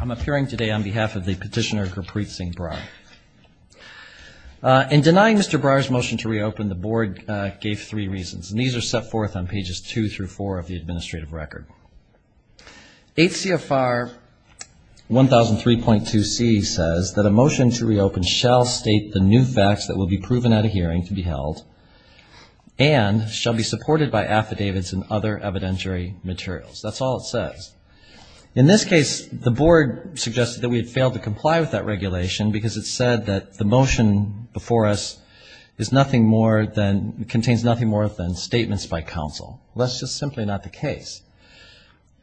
I'm appearing today on behalf of the petitioner Gurpreet Singh Brar. In denying Mr. Brar's motion to reopen, the board gave three reasons, and these are set forth on pages 2 through 4 of the administrative record. H.C.F.R. 1003.2c says that a motion to reopen shall state the new facts that will be proven at a hearing to be held and shall be supported by affidavits and other evidentiary materials. That's all it says. In this case, the board suggested that we had failed to comply with that regulation because it said that the motion before us contains nothing more than statements by counsel. Well, that's just simply not the case.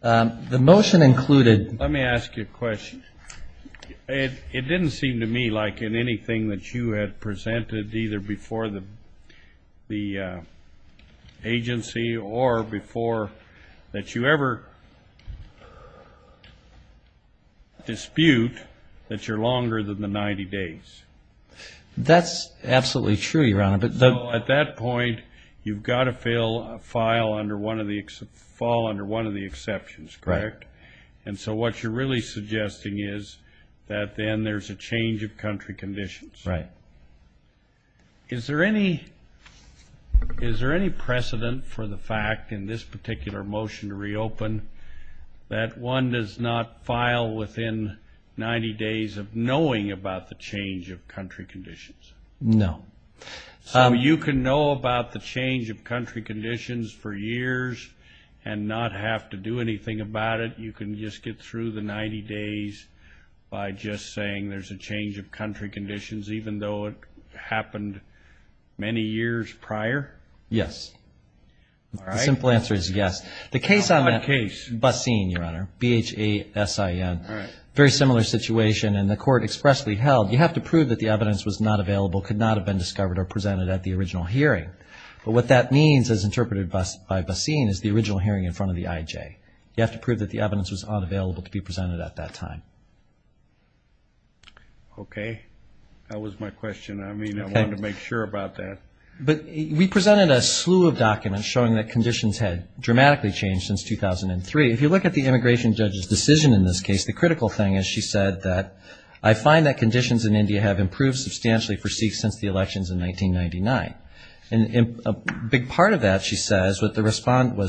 The motion included- Let me ask you a question. It didn't seem to me like in anything that you had presented either before the agency or before that you ever dispute that you're longer than the 90 days. That's absolutely true, Your Honor. So at that point, you've got to fill a file under one of the-fall under one of the exceptions, correct? Correct. And so what you're really suggesting is that then there's a change of country conditions. Right. Is there any precedent for the fact in this particular motion to reopen that one does not file within 90 days of knowing about the change of country conditions? No. So you can know about the change of country conditions for years and not have to do anything about it? You can just get through the 90 days by just saying there's a change of country conditions even though it happened many years prior? Yes. All right. The simple answer is yes. The case on that- On what case? Basin, Your Honor. B-H-A-S-I-N. All right. Okay. That was my question. I mean, I wanted to make sure about that. Okay. But we presented a slew of documents showing that conditions had dramatically changed since 2003. If you look at the immigration judge's decision in this case, The critical factor is that the immigration judge's decision was not to open the case. I find that conditions in India have improved substantially for Sikhs since the elections in 1999. And a big part of that, she says, was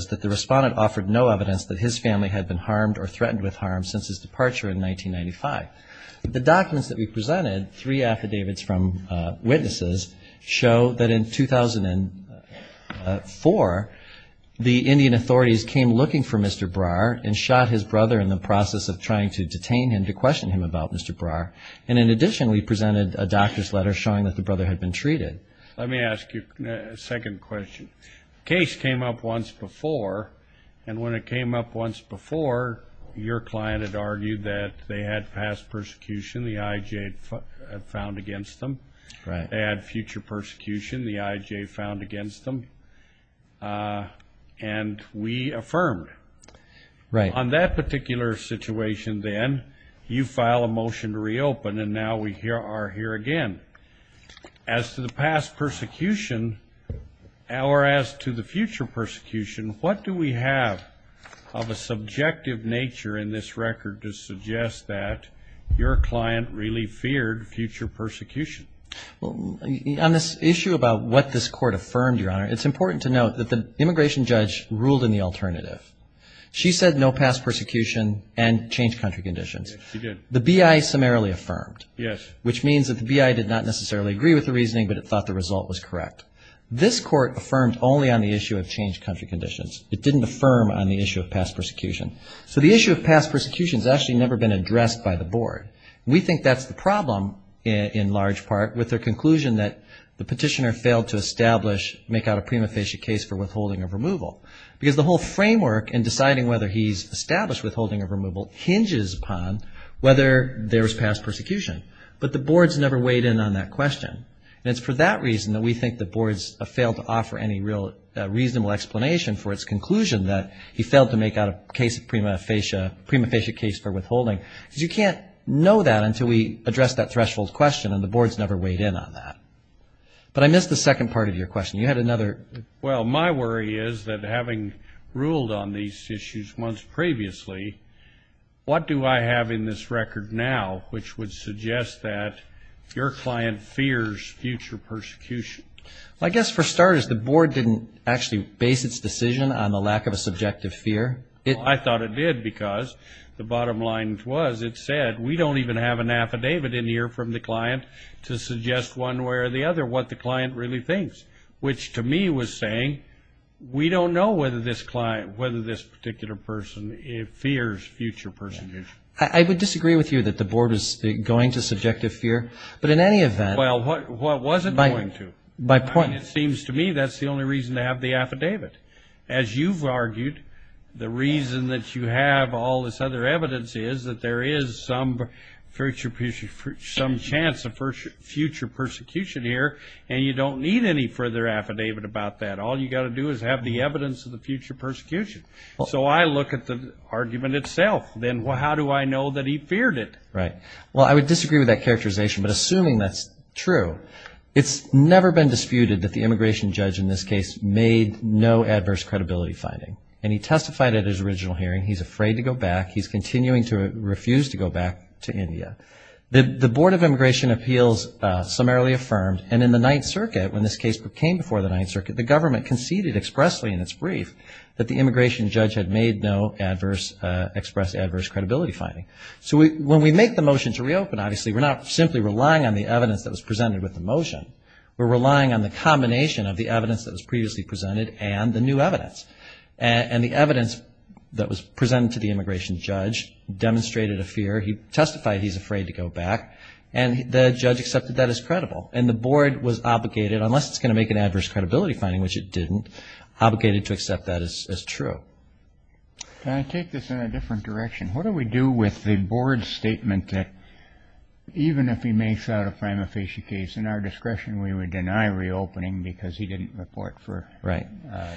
that the respondent offered no evidence that his family had been harmed or threatened with harm since his departure in 1995. The documents that we presented, three affidavits from witnesses, show that in 2004, the Indian authorities came looking for Mr. Brar and shot his brother in the process of trying to detain him to question him about Mr. Brar. And in addition, we presented a doctor's letter showing that the brother had been treated. Let me ask you a second question. The case came up once before, and when it came up once before, your client had argued that they had past persecution, the IJ had found against them. They had future persecution, the IJ found against them. And we affirmed. On that particular situation, then, you file a motion to reopen, and now we are here again. As to the past persecution, or as to the future persecution, what do we have of a subjective nature in this record to suggest that your client really feared future persecution? Well, on this issue about what this Court affirmed, Your Honor, it's important to note that the immigration judge ruled in the alternative. She said no past persecution and changed country conditions. Yes, she did. The BI summarily affirmed, which means that the BI did not necessarily agree with the reasoning, but it thought the result was correct. This Court affirmed only on the issue of changed country conditions. It didn't affirm on the issue of past persecution. So the issue of past persecution has actually never been addressed by the Board. We think that's the problem in large part with their conclusion that the petitioner failed to establish, make out a prima facie case for withholding of removal. Because the whole framework in deciding whether he's established withholding of removal hinges upon whether there's past persecution. But the Board's never weighed in on that question. And it's for that reason that we think the Board's failed to offer any real reasonable explanation for its conclusion that he failed to make out a case of prima facie, prima facie case for withholding. Because you can't know that until we address that threshold question, and the Board's never weighed in on that. But I missed the second part of your question. You had another. Well, my worry is that having ruled on these issues months previously, what do I have in this record now which would suggest that your client fears future persecution? I guess for starters, the Board didn't actually base its decision on the lack of a subjective fear. I thought it did, because the bottom line was it said we don't even have an affidavit in here from the client to suggest one way or the other what the client really thinks. Which to me was saying we don't know whether this client, whether this particular person fears future persecution. I would disagree with you that the Board is going to subjective fear, but in any event... Well, what was it going to? It seems to me that's the only reason to have the affidavit. As you've argued, the reason that you have all this other evidence is that there is some chance of future persecution here, and you don't need any further affidavit. All you've got to do is have the evidence of the future persecution. So I look at the argument itself, then how do I know that he feared it? Right. Well, I would disagree with that characterization, but assuming that's true, it's never been disputed that the immigration judge in this case made no adverse credibility finding. And he testified at his original hearing, he's afraid to go back, he's continuing to refuse to go back to India. The Board of Immigration Appeals summarily affirmed, and in the Ninth Circuit, when this case came before the Ninth Circuit, the government conceded expressly in its brief that the immigration judge had made no adverse, expressed adverse credibility finding. So when we make the motion to reopen, obviously we're not simply relying on the evidence that was presented with the motion. We're relying on the combination of the evidence that was previously presented and the new evidence. And the evidence that was presented to the immigration judge demonstrated a fear. He testified he's afraid to go back, and the judge accepted that as credible. And the board was obligated, unless it's going to make an adverse credibility finding, which it didn't, obligated to accept that as true. Can I take this in a different direction? What do we do with the board's statement that even if he makes out a prima facie case in our discretion, we would deny reopening because he didn't report for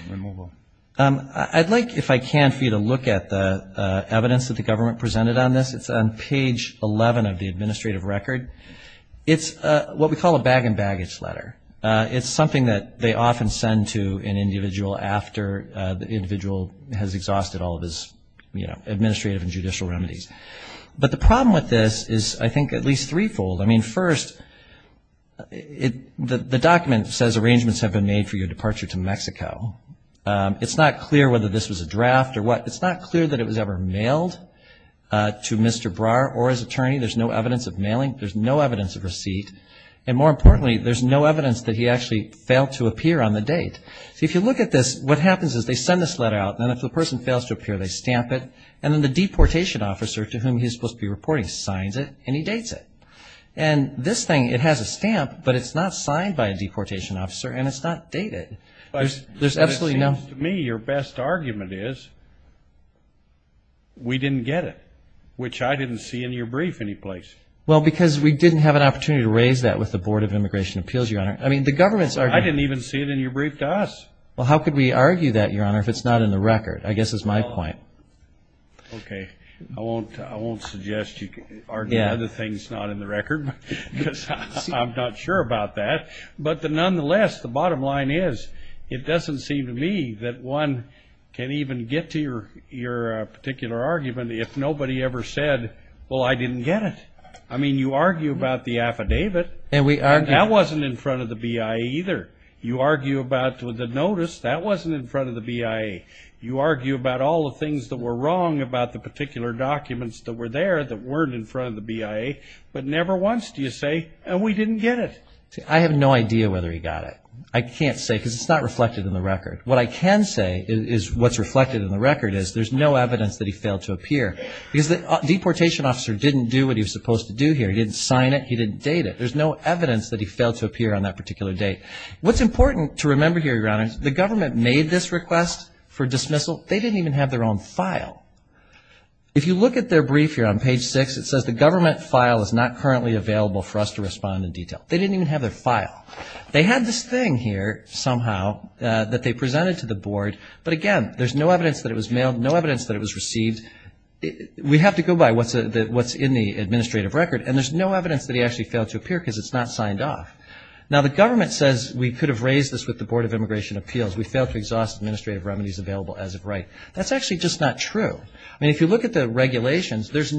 removal? I'd like, if I can, for you to look at the evidence that the government presented on this. It's on page 11 of the administrative record. It's what we call a bag and baggage letter. It's something that they often send to an individual after the individual has exhausted all of his, you know, administrative and judicial remedies. But the problem with this is, I think, at least threefold. I mean, first, the document says arrangements have been made for your departure to Mexico. It's not clear whether this was a draft or what. It's not clear that it was ever mailed to Mr. Brar or his attorney. There's no evidence of mailing. There's no evidence of receipt. And more importantly, there's no evidence that he actually failed to appear on the date. So if you look at this, what happens is they send this letter out, and if the person fails to appear, they stamp it. And then the deportation officer to whom he's supposed to be reporting signs it and he dates it. And this thing, it has a stamp, but it's not signed by a deportation officer and it's not dated. There's absolutely no... I didn't even see it in your brief to us. Well, how could we argue that, Your Honor, if it's not in the record? I guess that's my point. Okay. I won't suggest you argue other things not in the record, because I'm not sure about that. But nonetheless, the bottom line is, it doesn't seem to me that one can even get to your particular argument if nobody ever said, well, I didn't get it. I mean, you argue about the affidavit, and that wasn't in front of the BIA either. You argue about the notice, that wasn't in front of the BIA. You argue about all the things that were wrong about the particular documents that were there that weren't in front of the BIA. But never once do you say, we didn't get it. I have no idea whether he got it. I can't say, because it's not reflected in the record. What I can say is what's reflected in the record is there's no evidence that he failed to appear. Because the deportation officer didn't do what he was supposed to do here. He didn't sign it. He didn't date it. There's no evidence that he failed to appear on that particular date. What's important to remember here, Your Honor, is the government made this request for dismissal. They didn't even have their own file. If you look at their brief here on page six, it says the government file is not currently available for us to respond in detail. They didn't even have their file. They had this thing here somehow that they presented to the board. But again, there's no evidence that it was mailed, no evidence that it was received. We have to go by what's in the administrative record, and there's no evidence that he actually failed to appear because it's not signed off. Now, the government says we could have raised this with the Board of Immigration Appeals. We failed to exhaust administrative remedies available as of right. That's actually just not true. I mean, if you look at the regulations, we have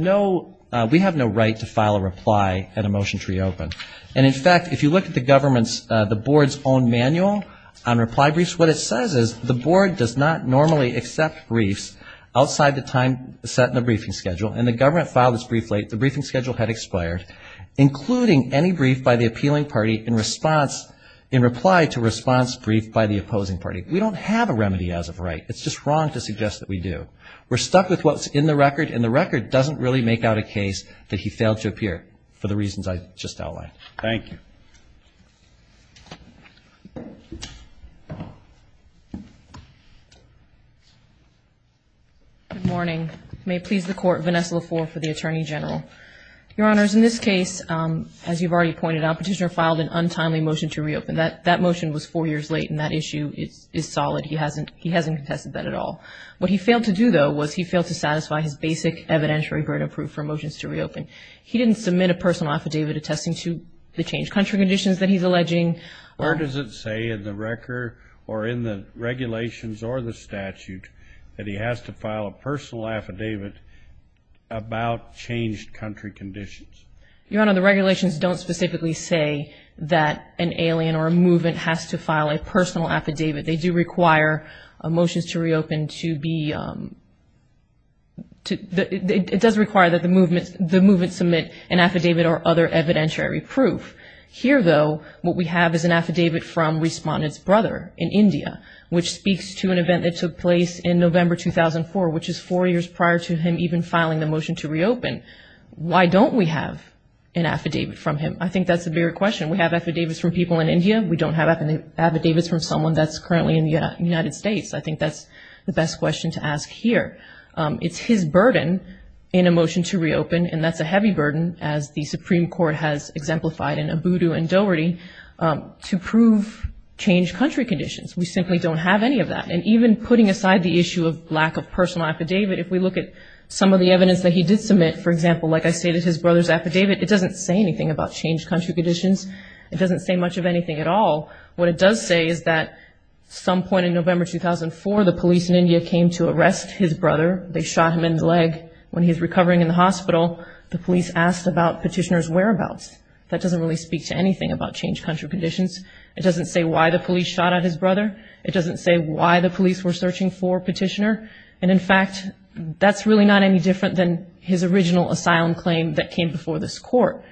no right to file a reply at a motion to reopen. And in fact, if you look at the board's own manual on reply briefs, what it says is the board does not normally accept briefs outside the time set in the briefing schedule, and the government filed its brief late. The briefing schedule had expired, including any brief by the appealing party in reply to a response brief by the opposing party. We don't have a remedy as of right. It's just wrong to suggest that we do. We're stuck with what's in the record, and the record doesn't really make out a case that he failed to appear for the reasons I just outlined. Thank you. Good morning. May it please the Court, Vanessa Lafour for the Attorney General. Your Honors, in this case, as you've already pointed out, Petitioner filed an untimely motion to reopen. That motion was four years late, and that issue is solid. He hasn't contested that at all. What he failed to do, though, was he failed to satisfy his basic evidentiary burden of proof for motions to reopen. He didn't submit a personal affidavit attesting to the changed country conditions that he's alleging. Where does it say in the record, or in the regulations or the statute, that he has to file a personal affidavit about changed country conditions? Your Honor, the regulations don't specifically say that an alien or a movement has to file a personal affidavit. They do require motions to reopen to be, it does require that the movement, the movement's motion to reopen to be a personal affidavit. He doesn't submit an affidavit or other evidentiary proof. Here, though, what we have is an affidavit from Respondent's brother in India, which speaks to an event that took place in November 2004, which is four years prior to him even filing the motion to reopen. Why don't we have an affidavit from him? I think that's the bigger question. We have affidavits from people in India. We don't have affidavits from someone that's currently in the United States. I think that's the best question to ask here. It's his burden in a motion to reopen, and that's a heavy burden, as the Supreme Court has exemplified in Abudu and Doherty, to prove changed country conditions. We simply don't have any of that. And even putting aside the issue of lack of personal affidavit, if we look at some of the evidence that he did submit, for example, like I stated, his brother's affidavit, it doesn't say anything about changed country conditions. It doesn't say much of anything at all. What it does say is that some point in November 2004, the police in India came to arrest his brother. They shot him in the leg. When he was recovering in the hospital, the police asked about Petitioner's whereabouts. That doesn't really speak to anything about changed country conditions. It doesn't say why the police shot at his brother. It doesn't say why the police were searching for Petitioner. And in fact, that's really not any different than his original asylum claim that came before this court.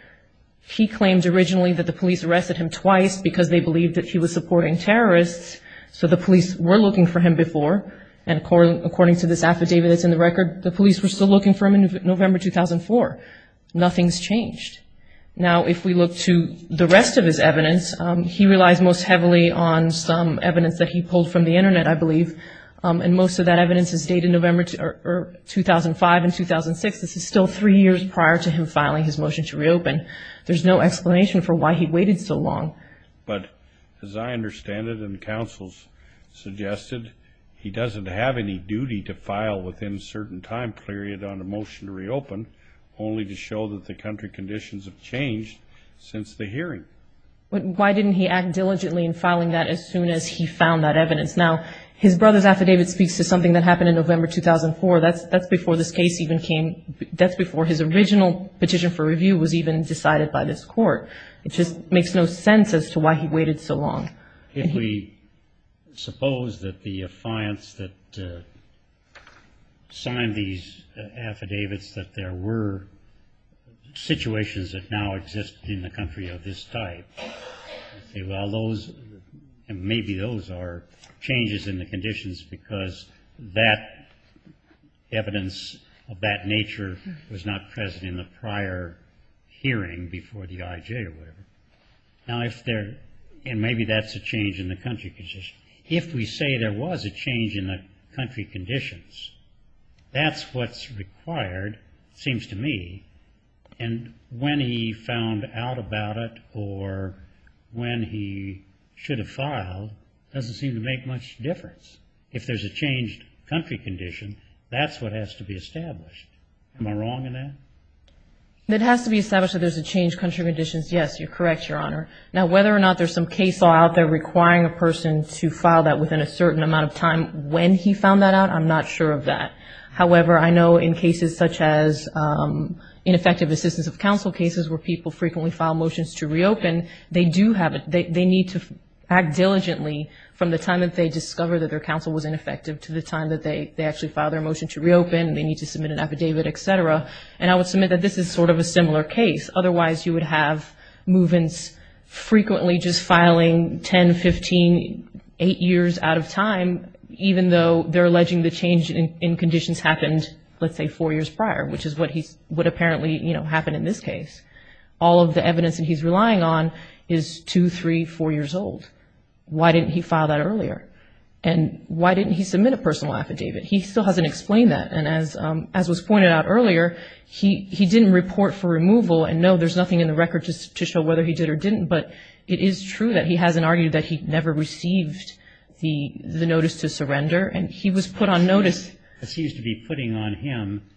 He claimed originally that the police arrested him twice because they believed that he was supporting terrorists. So the police were looking for him before. And according to this affidavit that's in the record, the police were still looking for him in November 2004. Nothing's changed. Now, if we look to the rest of his evidence, he relies most heavily on some evidence that he pulled from the Internet, I believe. And most of that evidence is dated November 2005 and 2006. This is still three years prior to him filing his motion to reopen. There's no explanation for why he waited so long. But as I understand it, and the counsels suggested, he doesn't have any duty to file within a certain time period on a motion to reopen, only to show that the country conditions have changed since the hearing. But why didn't he act diligently in filing that as soon as he found that evidence? Now, his brother's affidavit speaks to something that happened in November 2004. That's before his original petition for review was even decided by this court. It just makes no sense as to why he waited so long. If we suppose that the clients that signed these affidavits, that there were situations that now exist in the country of this type, and say, well, those, maybe those are changes in the conditions because that evidence of that nature was not present in the prior hearing before the IJ or whatever. Now, if there, and maybe that's a change in the country conditions. If we say there was a change in the country conditions, that's what's required, seems to me. And when he found out about it or when he should have filed, doesn't seem to make much difference. If there's a changed country condition, that's what has to be established. Am I wrong in that? It has to be established that there's a changed country conditions, yes, you're correct, Your Honor. Now, whether or not there's some case law out there requiring a person to file that within a certain amount of time when he found that out, I'm not sure of that. However, I know in cases such as ineffective assistance of counsel cases where people frequently file motions to reopen, they do have, they need to act diligently from the time that they discover that their counsel was ineffective to the time that they actually file their motion to reopen, they need to submit an affidavit, et cetera. And I would submit that this is sort of a similar case. Otherwise, you would have movements frequently just filing 10, 15, eight years out of time, even though they're alleging the change in conditions happened, let's say, four years prior, which is what apparently happened in this case. All of the evidence that he's relying on is two, three, four years old. Why didn't he file that earlier? And why didn't he submit a personal affidavit? He still hasn't explained that, and as was pointed out earlier, he didn't report for removal, and no, there's nothing in the record to show whether he did or didn't, but it is true that he hasn't argued that he never received the notice to surrender, and he was put on notice. It seems to be putting on him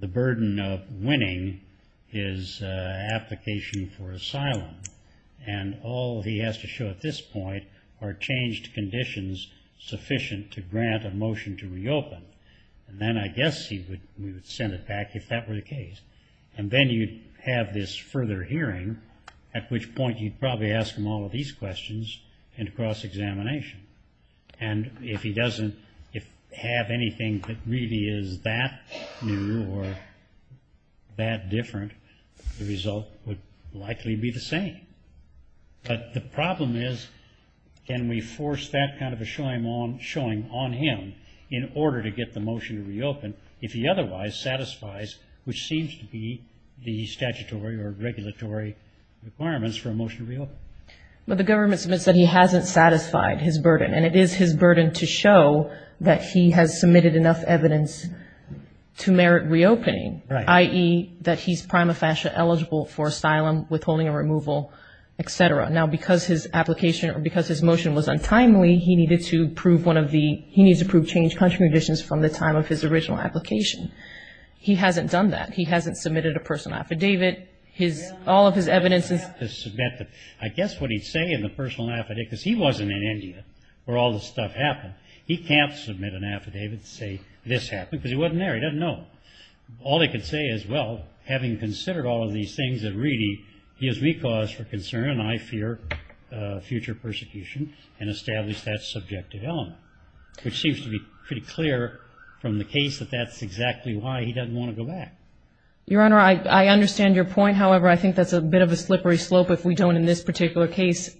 the burden of winning his application for asylum, and all he has to show at this point are changed conditions sufficient to grant a motion to reopen. And then I guess he would send it back if that were the case. And then you'd have this further hearing, at which point you'd probably ask him all of these questions and cross-examination. And if he doesn't have anything that really is that new or that different, the result would likely be the same. But the problem is, can we force that kind of a showing on him in order to get the motion to reopen if he otherwise satisfies, which seems to be the statutory or regulatory requirements for a motion to reopen? But the government submits that he hasn't satisfied his burden, and it is his burden to show that he has submitted enough evidence to merit reopening, i.e., that he's prima facie eligible for asylum, withholding and removal, et cetera. Now, because his application or because his motion was untimely, he needs to prove changed country conditions from the time of his original application. He hasn't done that. He hasn't submitted a personal affidavit. All of his evidence is submitted. I guess what he'd say in the personal affidavit, because he wasn't in India where all this stuff happened, he can't submit an affidavit to say this happened, because he wasn't there. He doesn't know. All he can say is, well, having considered all of these things at Reedy, he has recourse for concern, and I fear future persecution, and establish that subjective element, which seems to be pretty clear from the case that that's exactly why he doesn't want to go back. Your Honor, I understand your point. However, I think that's a bit of a slippery slope if we don't, in this particular case,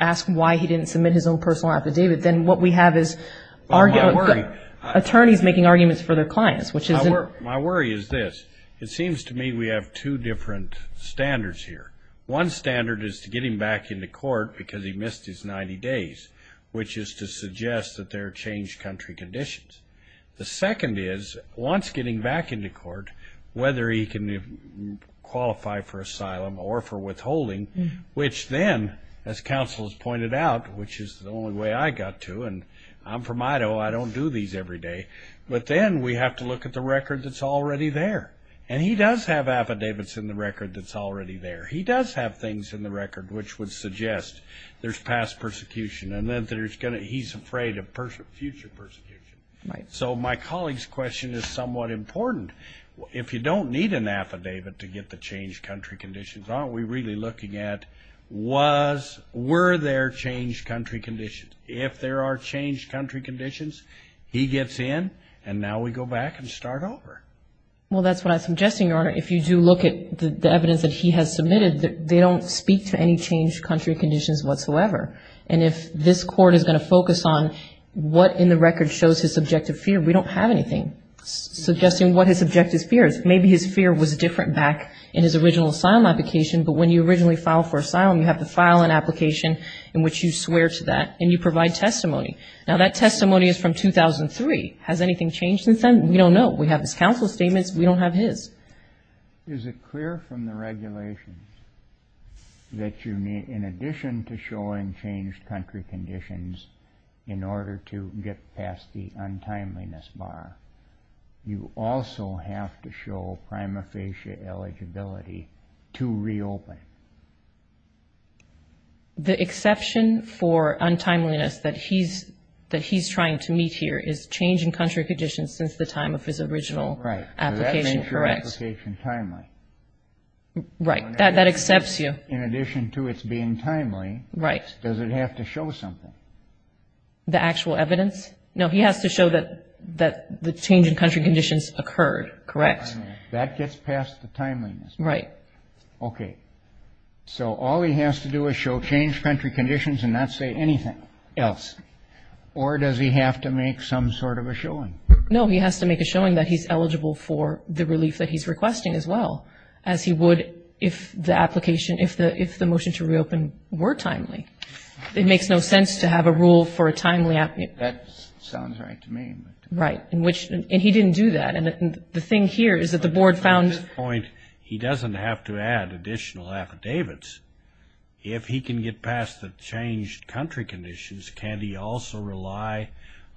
ask why he didn't submit his own personal affidavit. Then what we have is attorneys making arguments for their clients. My worry is this. It seems to me we have two different standards here. One standard is to get him back into court because he missed his 90 days, which is to suggest that there are changed country conditions. The second is, once getting back into court, whether he can qualify for asylum or for withholding, which then, as counsel has pointed out, which is the only way I got to, and I'm from Idaho, I don't do these every day, but then we have to look at the record that's already there. He does have affidavits in the record that's already there. He does have things in the record which would suggest there's past persecution and that he's afraid of future persecution. So my colleague's question is somewhat important. If you don't need an affidavit to get the changed country conditions, aren't we really looking at were there changed country conditions? If there are changed country conditions, he gets in, and now we go back and start over. Well, that's what I'm suggesting, Your Honor. If you do look at the evidence that he has submitted, they don't speak to any changed country conditions whatsoever. And if this court is going to focus on what in the record shows his subjective fear, we don't have anything suggesting what his subjective fear is. Maybe his fear was different back in his original asylum application, but when you originally file for asylum, you have to file an application in which you swear to that, and you provide testimony. Now, that testimony is from 2003. Has anything changed since then? We don't know. We have his counsel statements. We don't have his. The exception for untimeliness that he's trying to meet here is that he has not made a change in country conditions since the time of his original application, correct? Oh, right. So that makes your application timely. Right. That accepts you. In addition to its being timely, does it have to show something? The actual evidence? No, he has to show that the change in country conditions occurred, correct? That gets past the timeliness. Okay. So all he has to do is show changed country conditions and not say anything else, or does he have to make some sort of a showing? No, he has to make a showing that he's eligible for the relief that he's requesting as well, as he would if the application, if the motion to reopen were timely. It makes no sense to have a rule for a timely application. That sounds right to me. Right. And he didn't do that. And the thing here is that the board found at this point he doesn't have to add additional affidavits. If he can get past the changed country conditions, can he also rely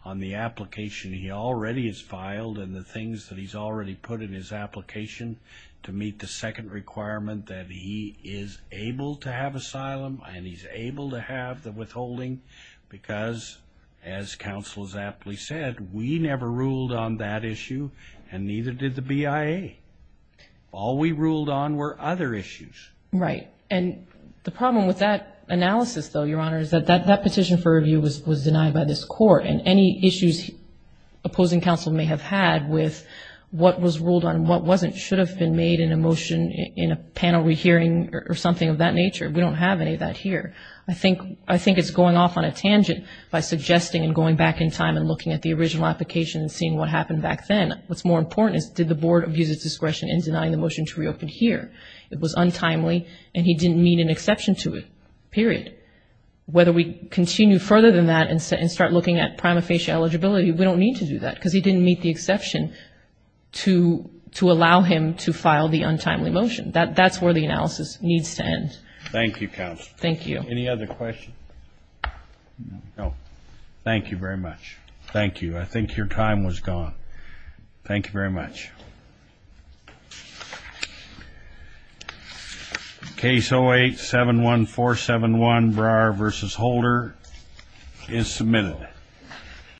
on the application he already has filed and the things that he's already put in his application to meet the second requirement that he is able to have asylum and he's able to have the withholding? Because, as counsel has aptly said, we never ruled on that issue, and neither did the BIA. All we ruled on were other issues. Right. And the problem with that analysis, though, Your Honor, is that that petition for review was denied by this court, and any issues opposing counsel may have had with what was ruled on and what wasn't should have been made in a motion in a panel rehearing or something of that nature. We don't have any of that here. I think it's going off on a tangent by suggesting and going back in time and looking at the original application and seeing what happened back then. What's more important is did the board abuse its discretion in denying the motion to reopen here? It was untimely, and he didn't meet an exception to it, period. Whether we continue further than that and start looking at prima facie eligibility, we don't need to do that because he didn't meet the exception to allow him to file the untimely motion. That's where the analysis needs to end. Thank you, counsel. Any other questions? No. Thank you.